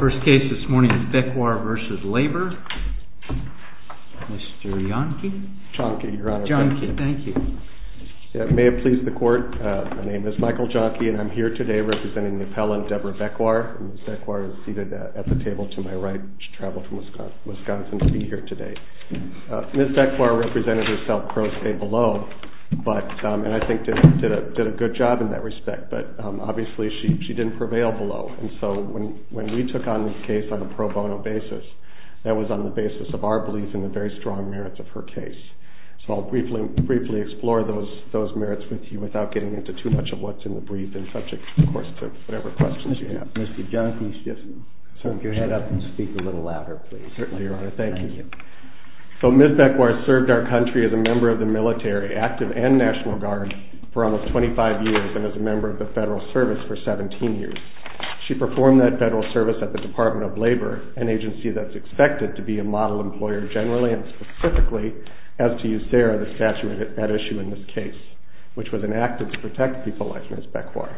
First case this morning is BECWAR v. LABOR. Mr. Jahnke. Jahnke, your honor. Jahnke, thank you. May it please the court, my name is Michael Jahnke and I'm here today representing the appellant Deborah BECWAR. Ms. BECWAR is seated at the table to my right. She traveled from Wisconsin to be here today. Ms. BECWAR represented herself pro se below, and I think did a good job in that respect, but obviously she didn't prevail below. And so when we took on this case on a pro bono basis, that was on the basis of our belief in the very strong merits of her case. So I'll briefly explore those merits with you without getting into too much of what's in the brief and subject, of course, to whatever questions you have. Mr. Jahnke, if you could move your head up and speak a little louder, please. Certainly, your honor. Thank you. So Ms. BECWAR served our country as a member of the military, active and National Guard, for almost 25 years and as a member of the federal service for 17 years. She performed that federal service at the Department of Labor, an agency that's expected to be a model employer generally and specifically, as to you, Sarah, the statute at issue in this case, which was enacted to protect people like Ms. BECWAR.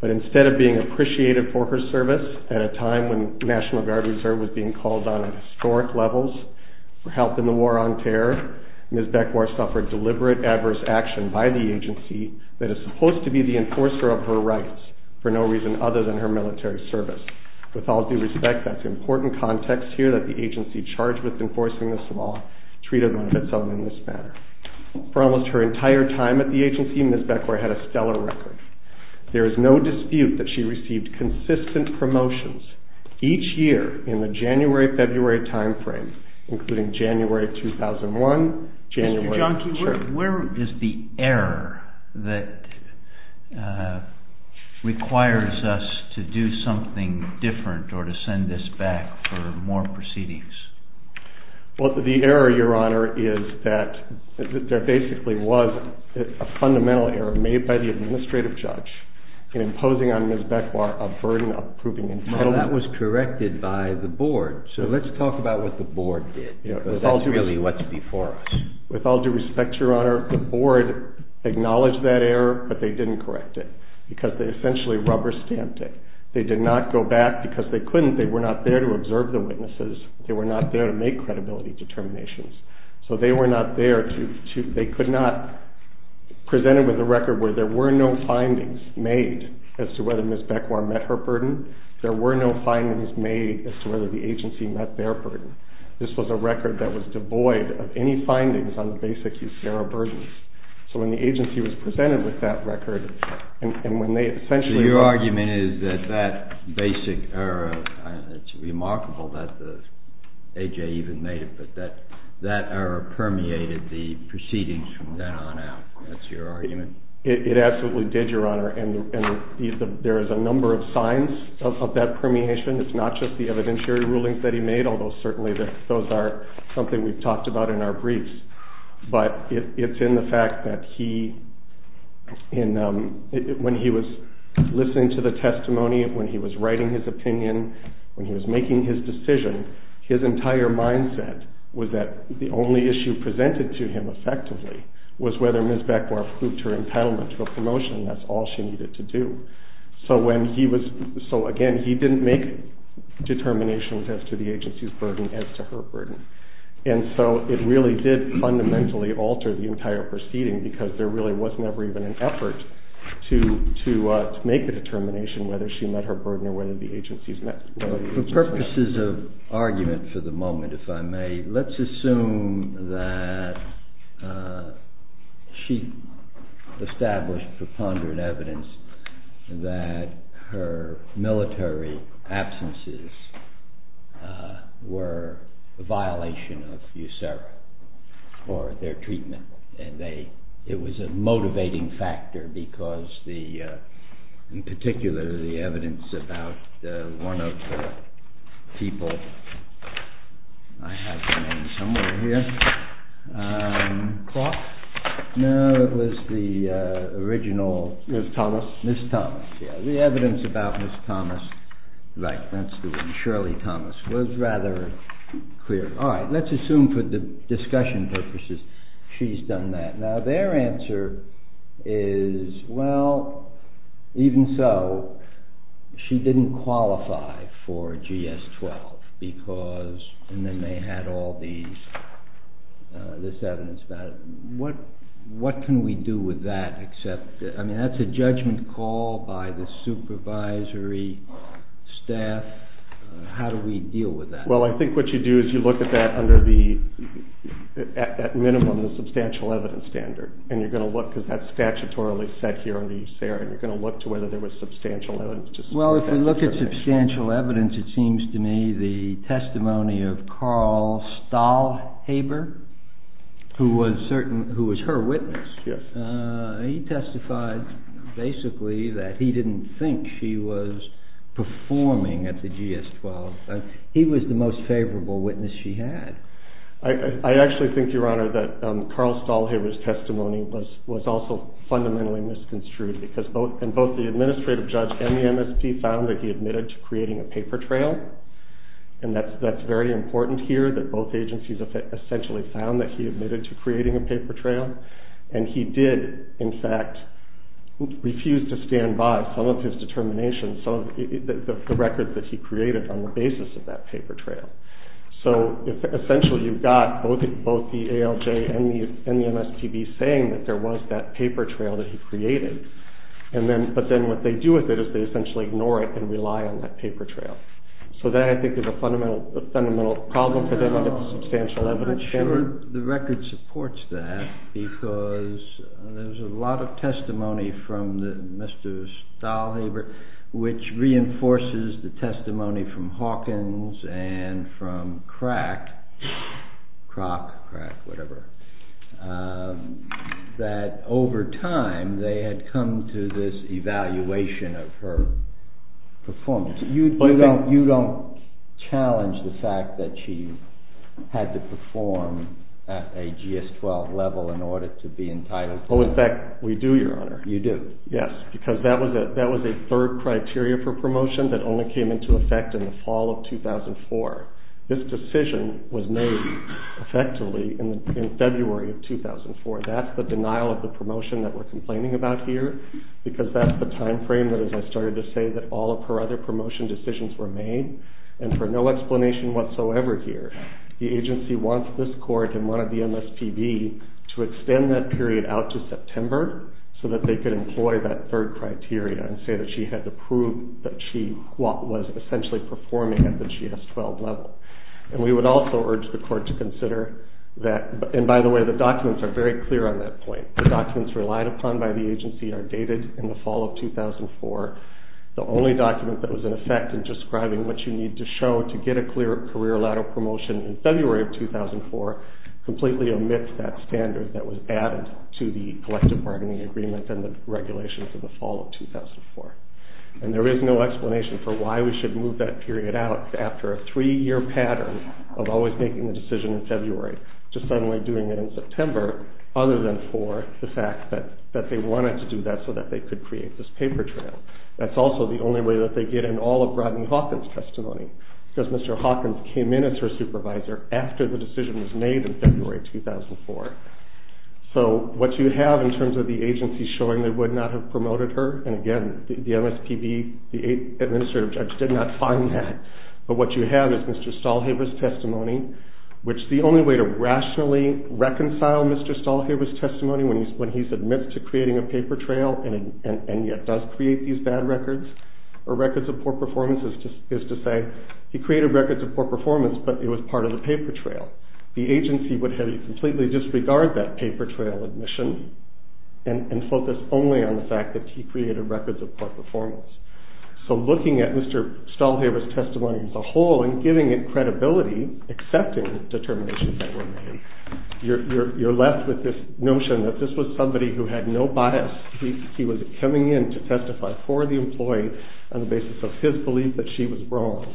But instead of being appreciated for her service at a time when the National Guard Reserve was being called on at historic levels for help in the war on terror, Ms. BECWAR suffered deliberate adverse action by the agency that is supposed to be the enforcer of her rights for no reason other than her military service. With all due respect, that's important context here that the agency charged with enforcing this law treated one of its own in this matter. For almost her entire time at the agency, Ms. BECWAR had a stellar record. There is no dispute that she received consistent promotions each year in the January-February time frame, including January 2001, January... Mr. Jahnke, where is the error that requires us to do something different or to send this back for more proceedings? Well, the error, Your Honor, is that there basically was a fundamental error made by the administrative judge in imposing on Ms. BECWAR a burden of proving entitlement. Well, that was corrected by the board, so let's talk about what the board did. That's really what's before us. With all due respect, Your Honor, the board acknowledged that error, but they didn't correct it because they essentially rubber-stamped it. They did not go back because they couldn't. They were not there to observe the witnesses. They were not there to make credibility determinations. So they were not there to... They could not present it with a record where there were no findings made as to whether Ms. BECWAR met her burden. There were no findings made as to whether the agency met their burden. This was a record that was devoid of any findings on the basics of error burdens. So when the agency was presented with that record and when they essentially... So that basic error, it's remarkable that the A.J. even made it, but that error permeated the proceedings from then on out. That's your argument? It absolutely did, Your Honor, and there is a number of signs of that permeation. It's not just the evidentiary rulings that he made, although certainly those are something we've talked about in our briefs. But it's in the fact that when he was listening to the testimony, when he was writing his opinion, when he was making his decision, his entire mindset was that the only issue presented to him effectively was whether Ms. BECWAR proved her entitlement to a promotion. That's all she needed to do. So again, he didn't make determinations as to the agency's burden as to her burden. And so it really did fundamentally alter the entire proceeding because there really was never even an effort to make a determination whether she met her burden or whether the agency's met it. For purposes of argument for the moment, if I may, let's assume that she established for pondered evidence that her military absences were a violation of USERRA or their treatment. It was a motivating factor because, in particular, the evidence about one of the people, I have her name somewhere here. Clark? No, it was the original... Ms. Thomas? Ms. Thomas, yeah. The evidence about Ms. Thomas, right, that's the one, Shirley Thomas, was rather clear. All right, let's assume for discussion purposes she's done that. Now, their answer is, well, even so, she didn't qualify for GS-12 because, and then they had all this evidence about it. What can we do with that except, I mean, that's a judgment call by the supervisory staff. How do we deal with that? Well, I think what you do is you look at that under the, at minimum, the substantial evidence standard. And you're going to look, because that's statutorily set here under USERRA, and you're going to look to whether there was substantial evidence. Well, if you look at substantial evidence, it seems to me the testimony of Carl Stahlhaber, who was her witness, he testified, basically, that he didn't think she was performing at the GS-12. He was the most favorable witness she had. I actually think, Your Honor, that Carl Stahlhaber's testimony was also fundamentally misconstrued because both the administrative judge and the MSP found that he admitted to creating a paper trail. And that's very important here, that both agencies essentially found that he admitted to creating a paper trail. And he did, in fact, refuse to stand by some of his determinations, some of the records that he created on the basis of that paper trail. So, essentially, you've got both the ALJ and the MSTB saying that there was that paper trail that he created. But then what they do with it is they essentially ignore it and rely on that paper trail. So that, I think, is a fundamental problem for them under the substantial evidence standard. The record supports that because there's a lot of testimony from Mr. Stahlhaber, which reinforces the testimony from Hawkins and from Crack, that over time they had come to this evaluation of her performance. You don't challenge the fact that she had to perform at a GS-12 level in order to be entitled to that? Oh, in fact, we do, Your Honor. You do? Yes, because that was a third criteria for promotion that only came into effect in the fall of 2004. This decision was made effectively in February of 2004. That's the denial of the promotion that we're complaining about here because that's the time frame that, as I started to say, that all of her other promotion decisions were made. And for no explanation whatsoever here, the agency wants this court and one of the MSTB to extend that period out to September so that they can employ that third criteria and say that she had to prove that she was essentially performing at the GS-12 level. And we would also urge the court to consider that, and by the way, the documents are very clear on that point. The documents relied upon by the agency are dated in the fall of 2004. The only document that was in effect in describing what you need to show to get a clear career-lateral promotion in February of 2004 completely omits that standard that was added to the collective bargaining agreement and the regulations in the fall of 2004. And there is no explanation for why we should move that period out after a three-year pattern of always making the decision in February to suddenly doing it in September other than for the fact that they wanted to do that so that they could create this paper trail. That's also the only way that they get in all of Rodney Hawkins' testimony because Mr. Hawkins came in as her supervisor after the decision was made in February 2004. So what you have in terms of the agency showing they would not have promoted her, and again, the MSPB, the administrative judge, did not find that. But what you have is Mr. Stahlhaber's testimony, which the only way to rationally reconcile Mr. Stahlhaber's testimony when he admits to creating a paper trail and yet does create these bad records or records of poor performance is to say he created records of poor performance but it was part of the paper trail. The agency would have you completely disregard that paper trail admission and focus only on the fact that he created records of poor performance. So looking at Mr. Stahlhaber's testimony as a whole and giving it credibility, accepting the determination that were made, you're left with this notion that this was somebody who had no bias. He was coming in to testify for the employee on the basis of his belief that she was wrong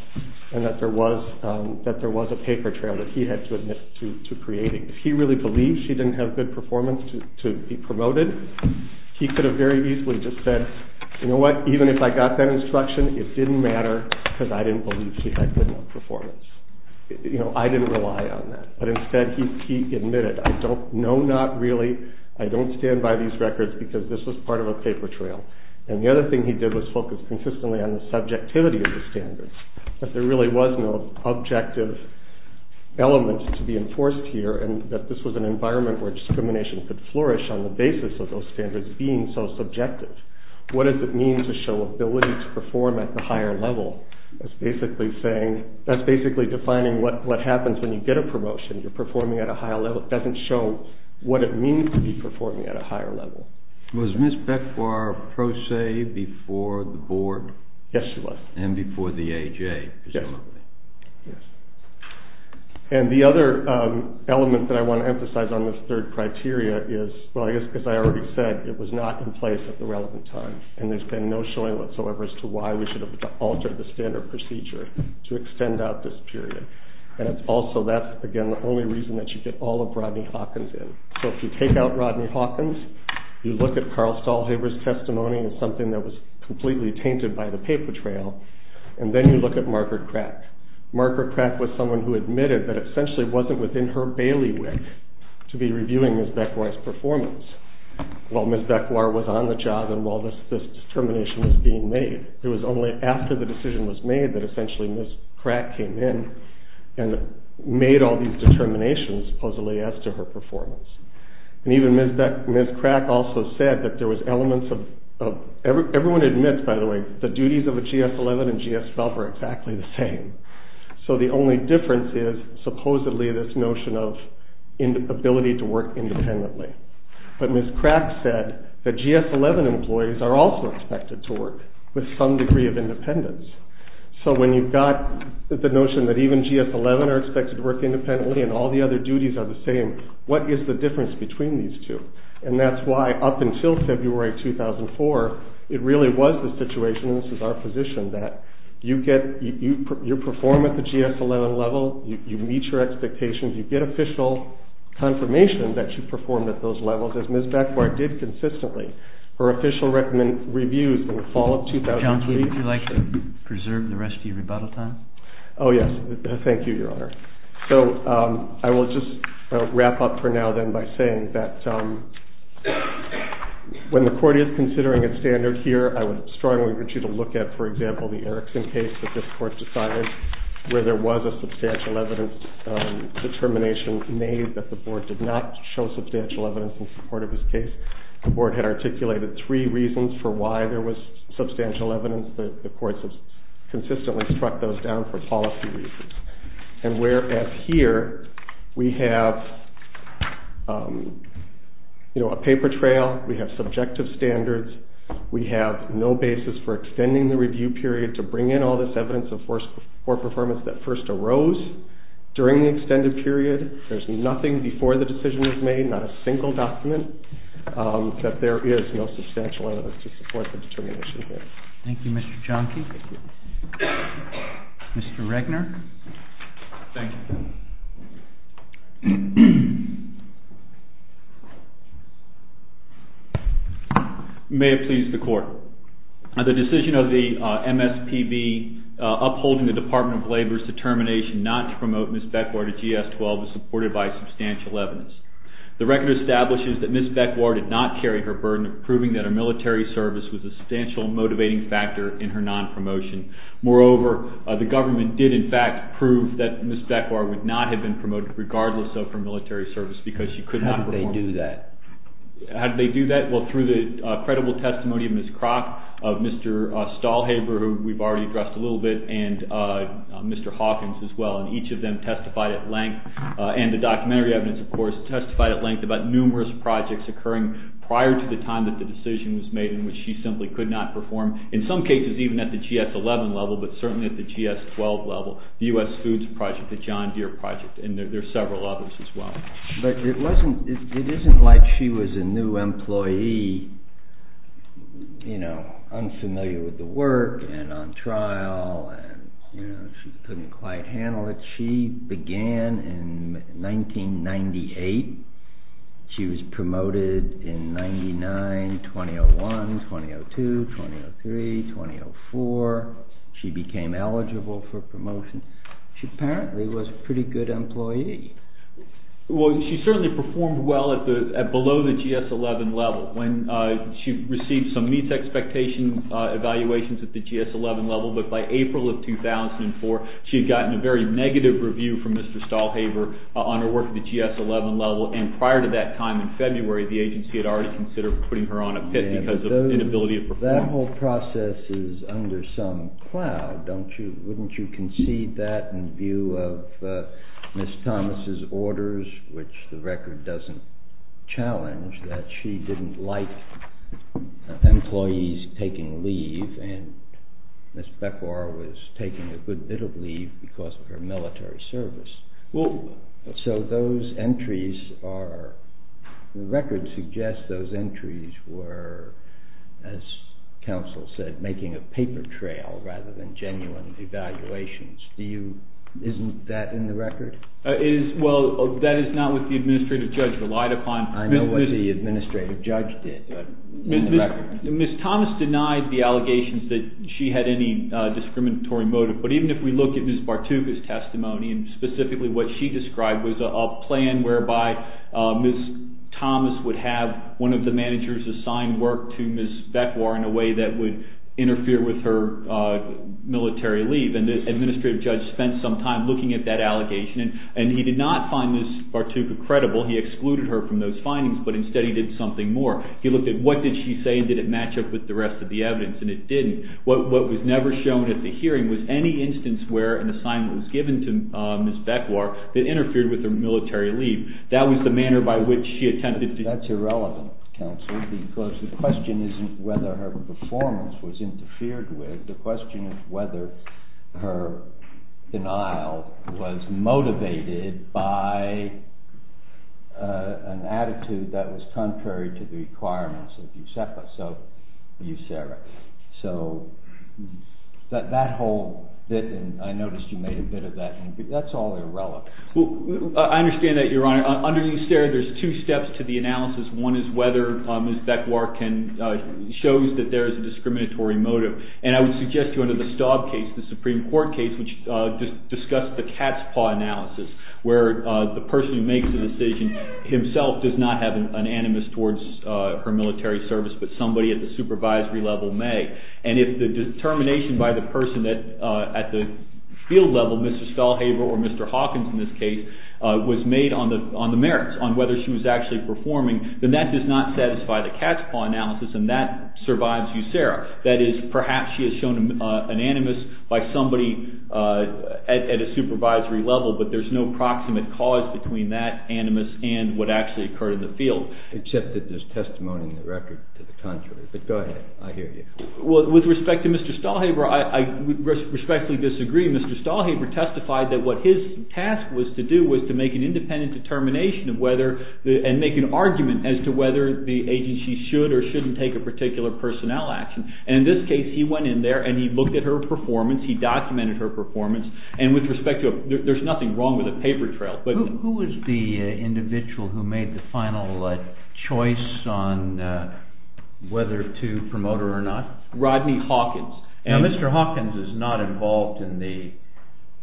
and that there was a paper trail that he had to admit to creating. If he really believed she didn't have good performance to be promoted, he could have very easily just said, you know what, even if I got that instruction, it didn't matter because I didn't believe she had good enough performance. I didn't rely on that, but instead he admitted, I don't know, not really, I don't stand by these records because this was part of a paper trail. And the other thing he did was focus consistently on the subjectivity of the standards, that there really was no objective elements to be enforced here and that this was an environment where discrimination could flourish on the basis of those standards being so subjective. What does it mean to show ability to perform at the higher level? That's basically saying, that's basically defining what happens when you get a promotion, you're performing at a higher level. It doesn't show what it means to be performing at a higher level. Was Ms. Bekvar pro se before the board? Yes, she was. And before the AJ? Yes. Yes. And the other element that I want to emphasize on this third criteria is, well I guess because I already said, it was not in place at the relevant time. And there's been no showing whatsoever as to why we should have altered the standard procedure to extend out this period. And it's also, that's again the only reason that you get all of Rodney Hawkins in. So if you take out Rodney Hawkins, you look at Carl Stahlhaber's testimony as something that was completely tainted by the paper trail, and then you look at Margaret Crack. Margaret Crack was someone who admitted that it essentially wasn't within her bailiwick to be reviewing Ms. Bekvar's performance. While Ms. Bekvar was on the job and while this determination was being made. It was only after the decision was made that essentially Ms. Crack came in and made all these determinations supposedly as to her performance. And even Ms. Crack also said that there was elements of, everyone admits by the way, the duties of a GS-11 and GS-12 are exactly the same. So the only difference is supposedly this notion of ability to work independently. But Ms. Crack said that GS-11 employees are also expected to work with some degree of independence. So when you've got the notion that even GS-11 are expected to work independently and all the other duties are the same, what is the difference between these two? And that's why up until February 2004, it really was the situation, and this is our position, that you get, you perform at the GS-11 level, you meet your expectations, you get official confirmation that you performed at those levels as Ms. Bekvar did consistently. Her official reviews in the fall of 2003... John, would you like to preserve the rest of your rebuttal time? Oh, yes. Thank you, Your Honor. So I will just wrap up for now then by saying that when the Court is considering a standard here, I would strongly urge you to look at, for example, the Erickson case that this Court decided, where there was a substantial evidence determination made that the Board did not show substantial evidence in support of this case. The Board had articulated three reasons for why there was substantial evidence. The Court has consistently struck those down for policy reasons. And whereas here, we have a paper trail, we have subjective standards, we have no basis for extending the review period to bring in all this evidence of poor performance that first arose during the extended period. There's nothing before the decision was made, not a single document, that there is no substantial evidence to support the determination here. Thank you, Mr. Jahnke. Thank you. Mr. Regner. Thank you. May it please the Court. The decision of the MSPB upholding the Department of Labor's determination not to promote Ms. Beckwar to GS-12 is supported by substantial evidence. The record establishes that Ms. Beckwar did not carry her burden of proving that her military service was a substantial motivating factor in her non-promotion. Moreover, the government did, in fact, prove that Ms. Beckwar would not have been promoted regardless of her military service because she could not perform. How did they do that? How did they do that? Well, through the credible testimony of Ms. Kroc, of Mr. Stahlhaber, who we've already addressed a little bit, and Mr. Hawkins as well. And each of them testified at length, and the documentary evidence, of course, testified at length about numerous projects occurring prior to the time that the decision was made in which she simply could not perform. In some cases, even at the GS-11 level, but certainly at the GS-12 level, the U.S. Foods Project, the John Deere Project, and there are several others as well. But it wasn't – it isn't like she was a new employee, you know, unfamiliar with the work and on trial and, you know, she couldn't quite handle it. She began in 1998. She was promoted in 1999, 2001, 2002, 2003, 2004. She became eligible for promotion. She apparently was a pretty good employee. Well, she certainly performed well at below the GS-11 level when she received some meets expectation evaluations at the GS-11 level. But by April of 2004, she had gotten a very negative review from Mr. Stahlhaber on her work at the GS-11 level. And prior to that time in February, the agency had already considered putting her on a pit because of inability to perform. Well, that whole process is under some cloud, don't you? Wouldn't you concede that in view of Ms. Thomas' orders, which the record doesn't challenge, that she didn't like employees taking leave and Ms. Beckwar was taking a good bit of leave because of her military service? So those entries are, the record suggests those entries were, as counsel said, making a paper trail rather than genuine evaluations. Isn't that in the record? Well, that is not what the administrative judge relied upon. I know what the administrative judge did, but in the record. Ms. Thomas denied the allegations that she had any discriminatory motive. But even if we look at Ms. Bartuka's testimony, and specifically what she described was a plan whereby Ms. Thomas would have one of the managers assign work to Ms. Beckwar in a way that would interfere with her military leave. And this administrative judge spent some time looking at that allegation, and he did not find Ms. Bartuka credible. He excluded her from those findings, but instead he did something more. He looked at what did she say and did it match up with the rest of the evidence, and it didn't. What was never shown at the hearing was any instance where an assignment was given to Ms. Beckwar that interfered with her military leave. That was the manner by which she attempted to… …an attitude that was contrary to the requirements of USEPA, so USERA. So that whole bit, and I noticed you made a bit of that, that's all irrelevant. I understand that, Your Honor. Under USERA, there's two steps to the analysis. One is whether Ms. Beckwar shows that there is a discriminatory motive. And I would suggest to you under the Staub case, the Supreme Court case which discussed the cat's paw analysis, where the person who makes the decision himself does not have an animus towards her military service, but somebody at the supervisory level may. And if the determination by the person at the field level, Mr. Stelhaver or Mr. Hawkins in this case, was made on the merits, on whether she was actually performing, then that does not satisfy the cat's paw analysis, and that survives USERA. That is, perhaps she has shown an animus by somebody at a supervisory level, but there's no proximate cause between that animus and what actually occurred in the field. Except that there's testimony in the record to the contrary, but go ahead. I hear you. With respect to Mr. Stelhaver, I respectfully disagree. Mr. Stelhaver testified that what his task was to do was to make an independent determination of whether, and make an argument as to whether the agency should or shouldn't take a particular personnel action. And in this case, he went in there and he looked at her performance, he documented her performance, and with respect to, there's nothing wrong with a paper trail. Who was the individual who made the final choice on whether to promote her or not? Rodney Hawkins. Now, Mr. Hawkins is not involved in the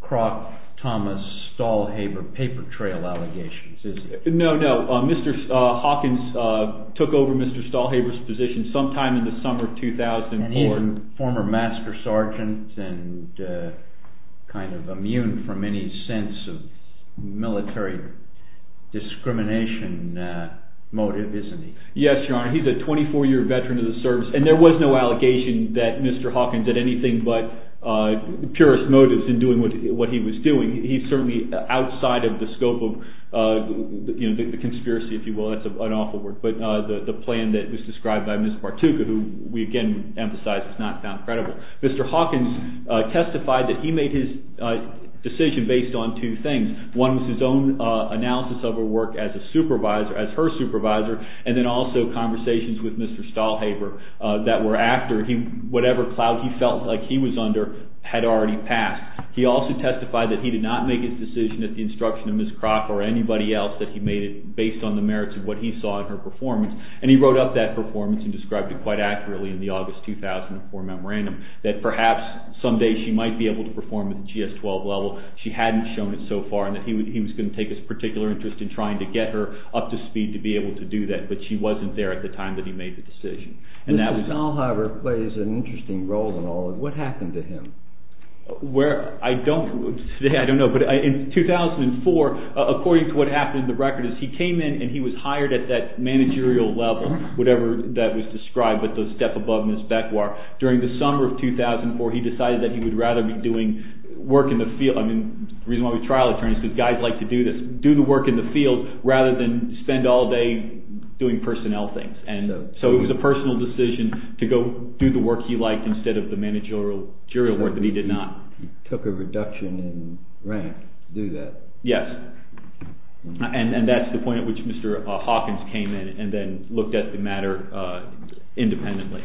Kroc, Thomas, Stelhaver paper trail allegations, is he? No, no. Mr. Hawkins took over Mr. Stelhaver's position sometime in the summer of 2004. And he's a former master sergeant and kind of immune from any sense of military discrimination motive, isn't he? Yes, Your Honor. He's a 24-year veteran of the service, and there was no allegation that Mr. Hawkins had anything but purist motives in doing what he was doing. He's certainly outside of the scope of the conspiracy, if you will. That's an awful word. But the plan that was described by Ms. Bartuka, who we again emphasize is not found credible. Mr. Hawkins testified that he made his decision based on two things. One was his own analysis of her work as a supervisor, as her supervisor, and then also conversations with Mr. Stelhaver that were after whatever clout he felt like he was under had already passed. He also testified that he did not make his decision at the instruction of Ms. Crock or anybody else, that he made it based on the merits of what he saw in her performance. And he wrote up that performance and described it quite accurately in the August 2004 memorandum, that perhaps someday she might be able to perform at the GS-12 level. She hadn't shown it so far, and that he was going to take a particular interest in trying to get her up to speed to be able to do that. But she wasn't there at the time that he made the decision. Mr. Stelhaver plays an interesting role in all of this. What happened to him? I don't know, but in 2004, according to what happened in the record, he came in and he was hired at that managerial level, whatever that was described, but the step above Ms. Beckwar. During the summer of 2004, he decided that he would rather be doing work in the field. The reason why we trial attorneys is because guys like to do the work in the field rather than spend all day doing personnel things. So it was a personal decision to go do the work he liked instead of the managerial work that he did not. He took a reduction in rank to do that. Yes, and that's the point at which Mr. Hawkins came in and then looked at the matter independently.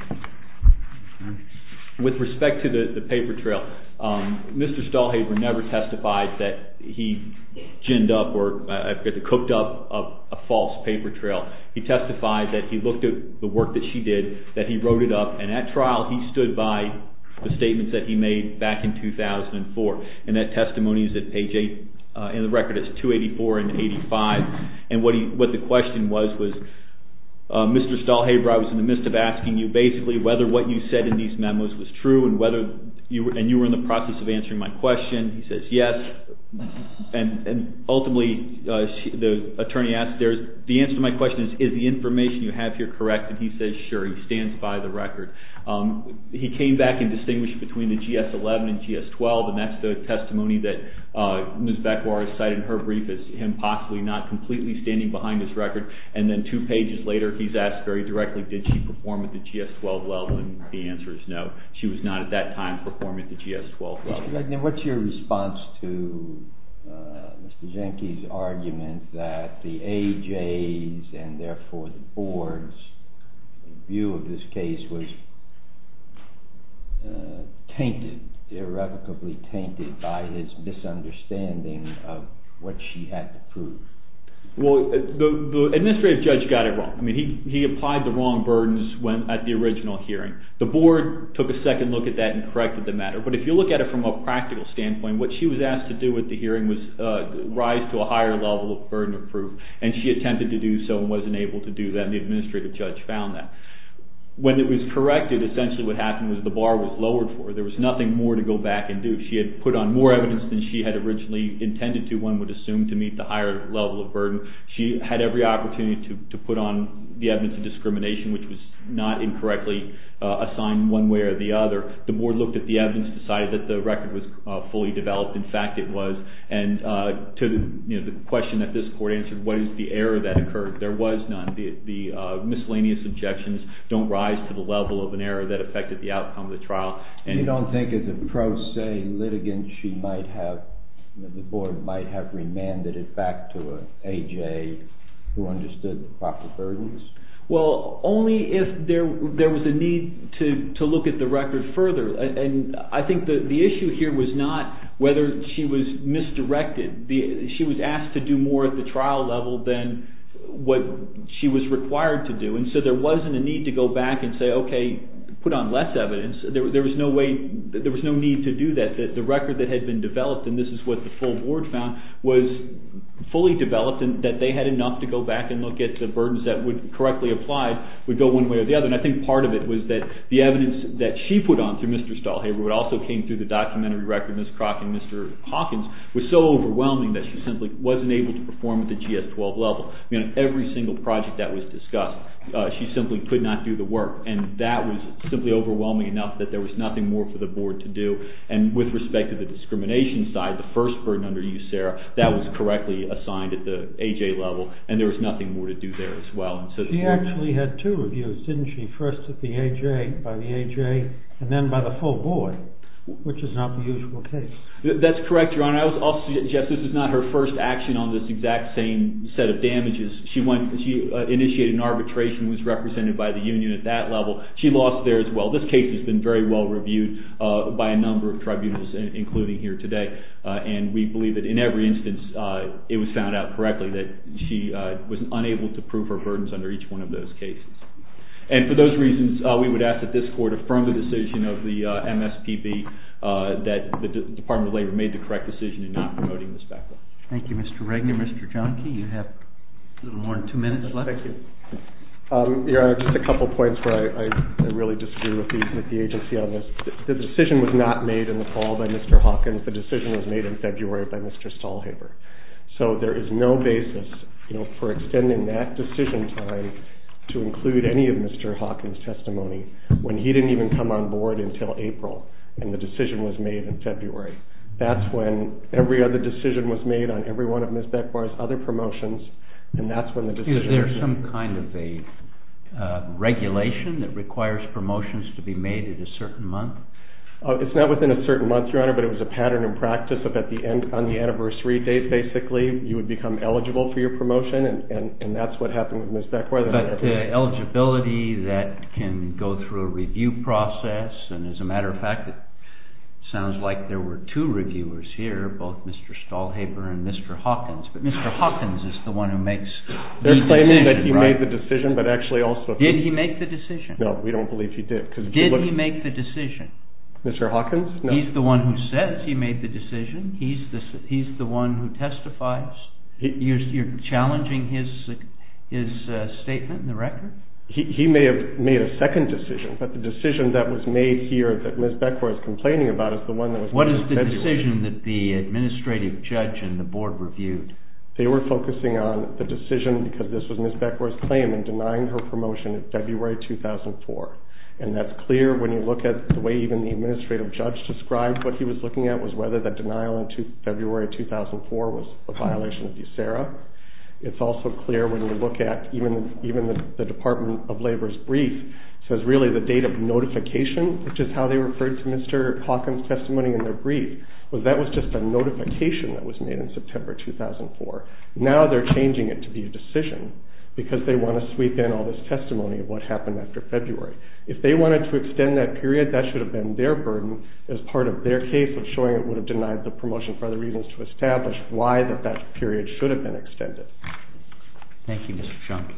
With respect to the paper trail, Mr. Stelhaver never testified that he ginned up or cooked up a false paper trail. He testified that he looked at the work that she did, that he wrote it up, and at trial he stood by the statements that he made back in 2004. And that testimony is at page 8 in the record. It's 284 and 85. And what the question was, was Mr. Stelhaver, I was in the midst of asking you basically whether what you said in these memos was true and you were in the process of answering my question. He says yes, and ultimately the attorney asks, the answer to my question is, is the information you have here correct? And he says, sure, he stands by the record. He came back and distinguished between the GS-11 and GS-12, and that's the testimony that Ms. Bekwar has cited in her brief as him possibly not completely standing behind this record. And then two pages later he's asked very directly, did she perform at the GS-12 level? And the answer is no, she was not at that time performing at the GS-12 level. What's your response to Mr. Jenke's argument that the AJ's and therefore the board's view of this case was tainted, irrevocably tainted by his misunderstanding of what she had to prove? Well, the administrative judge got it wrong. He applied the wrong burdens at the original hearing. The board took a second look at that and corrected the matter, but if you look at it from a practical standpoint, what she was asked to do at the hearing was rise to a higher level of burden of proof, and she attempted to do so and wasn't able to do that, and the administrative judge found that. When it was corrected, essentially what happened was the bar was lowered for her. There was nothing more to go back and do. She had put on more evidence than she had originally intended to, one would assume, to meet the higher level of burden. She had every opportunity to put on the evidence of discrimination, which was not incorrectly assigned one way or the other. The board looked at the evidence and decided that the record was fully developed. In fact, it was, and to the question that this court answered, what is the error that occurred? There was none. The miscellaneous objections don't rise to the level of an error that affected the outcome of the trial. You don't think as a pro se litigant the board might have remanded it back to an A.J. who understood the proper burdens? Well, only if there was a need to look at the record further, and I think the issue here was not whether she was misdirected. She was asked to do more at the trial level than what she was required to do, and so there wasn't a need to go back and say, okay, put on less evidence. There was no need to do that. The record that had been developed, and this is what the full board found, was fully developed, and that they had enough to go back and look at the burdens that would correctly apply would go one way or the other, and I think part of it was that the evidence that she put on through Mr. Stahlhaber, but also came through the documentary record, Ms. Crock and Mr. Hawkins, was so overwhelming that she simply wasn't able to perform at the GS-12 level. Every single project that was discussed, she simply could not do the work, and that was simply overwhelming enough that there was nothing more for the board to do, and with respect to the discrimination side, the first burden under you, Sarah, that was correctly assigned at the A.J. level, and there was nothing more to do there as well. She actually had two reviews, didn't she? First at the A.J., by the A.J., and then by the full board, which is not the usual case. That's correct, Your Honor. I would also suggest this is not her first action on this exact same set of damages. She initiated an arbitration and was represented by the union at that level. She lost there as well. This case has been very well reviewed by a number of tribunals, including here today, and we believe that in every instance it was found out correctly that she was unable to prove her burdens under each one of those cases, and for those reasons, we would ask that this court affirm the decision of the MSPB that the Department of Labor made the correct decision in not promoting this backlog. Thank you, Mr. Regner. Mr. Johnkey, you have a little more than two minutes left. Thank you. Your Honor, just a couple points where I really disagree with the agency on this. The decision was not made in the fall by Mr. Hawkins. The decision was made in February by Mr. Stahlhaber. So there is no basis for extending that decision time to include any of Mr. Hawkins' testimony when he didn't even come on board until April and the decision was made in February. That's when every other decision was made on every one of Ms. Becquart's other promotions, and that's when the decision was made. Excuse me. Is there some kind of a regulation that requires promotions to be made at a certain month? It's not within a certain month, Your Honor, but it was a pattern in practice. On the anniversary date, basically, you would become eligible for your promotion, and that's what happened with Ms. Becquart. Eligibility that can go through a review process, and as a matter of fact, it sounds like there were two reviewers here, both Mr. Stahlhaber and Mr. Hawkins, but Mr. Hawkins is the one who makes the decision, right? They're claiming that he made the decision, but actually also— Did he make the decision? No, we don't believe he did. Did he make the decision? Mr. Hawkins? He's the one who says he made the decision. He's the one who testifies. You're challenging his statement in the record? He may have made a second decision, but the decision that was made here that Ms. Becquart is complaining about is the one that was— What is the decision that the administrative judge and the board reviewed? They were focusing on the decision, because this was Ms. Becquart's claim, in denying her promotion in February 2004, and that's clear when you look at the way even the administrative judge described what he was looking at was whether the denial in February 2004 was a violation of USERRA. It's also clear when you look at even the Department of Labor's brief, it says really the date of notification, which is how they referred to Mr. Hawkins' testimony in their brief, was that was just a notification that was made in September 2004. Now they're changing it to be a decision, because they want to sweep in all this testimony of what happened after February. If they wanted to extend that period, that should have been their burden as part of their case of showing it would have denied the promotion for other reasons to establish why that that period should have been extended. Thank you, Mr. Shonkin.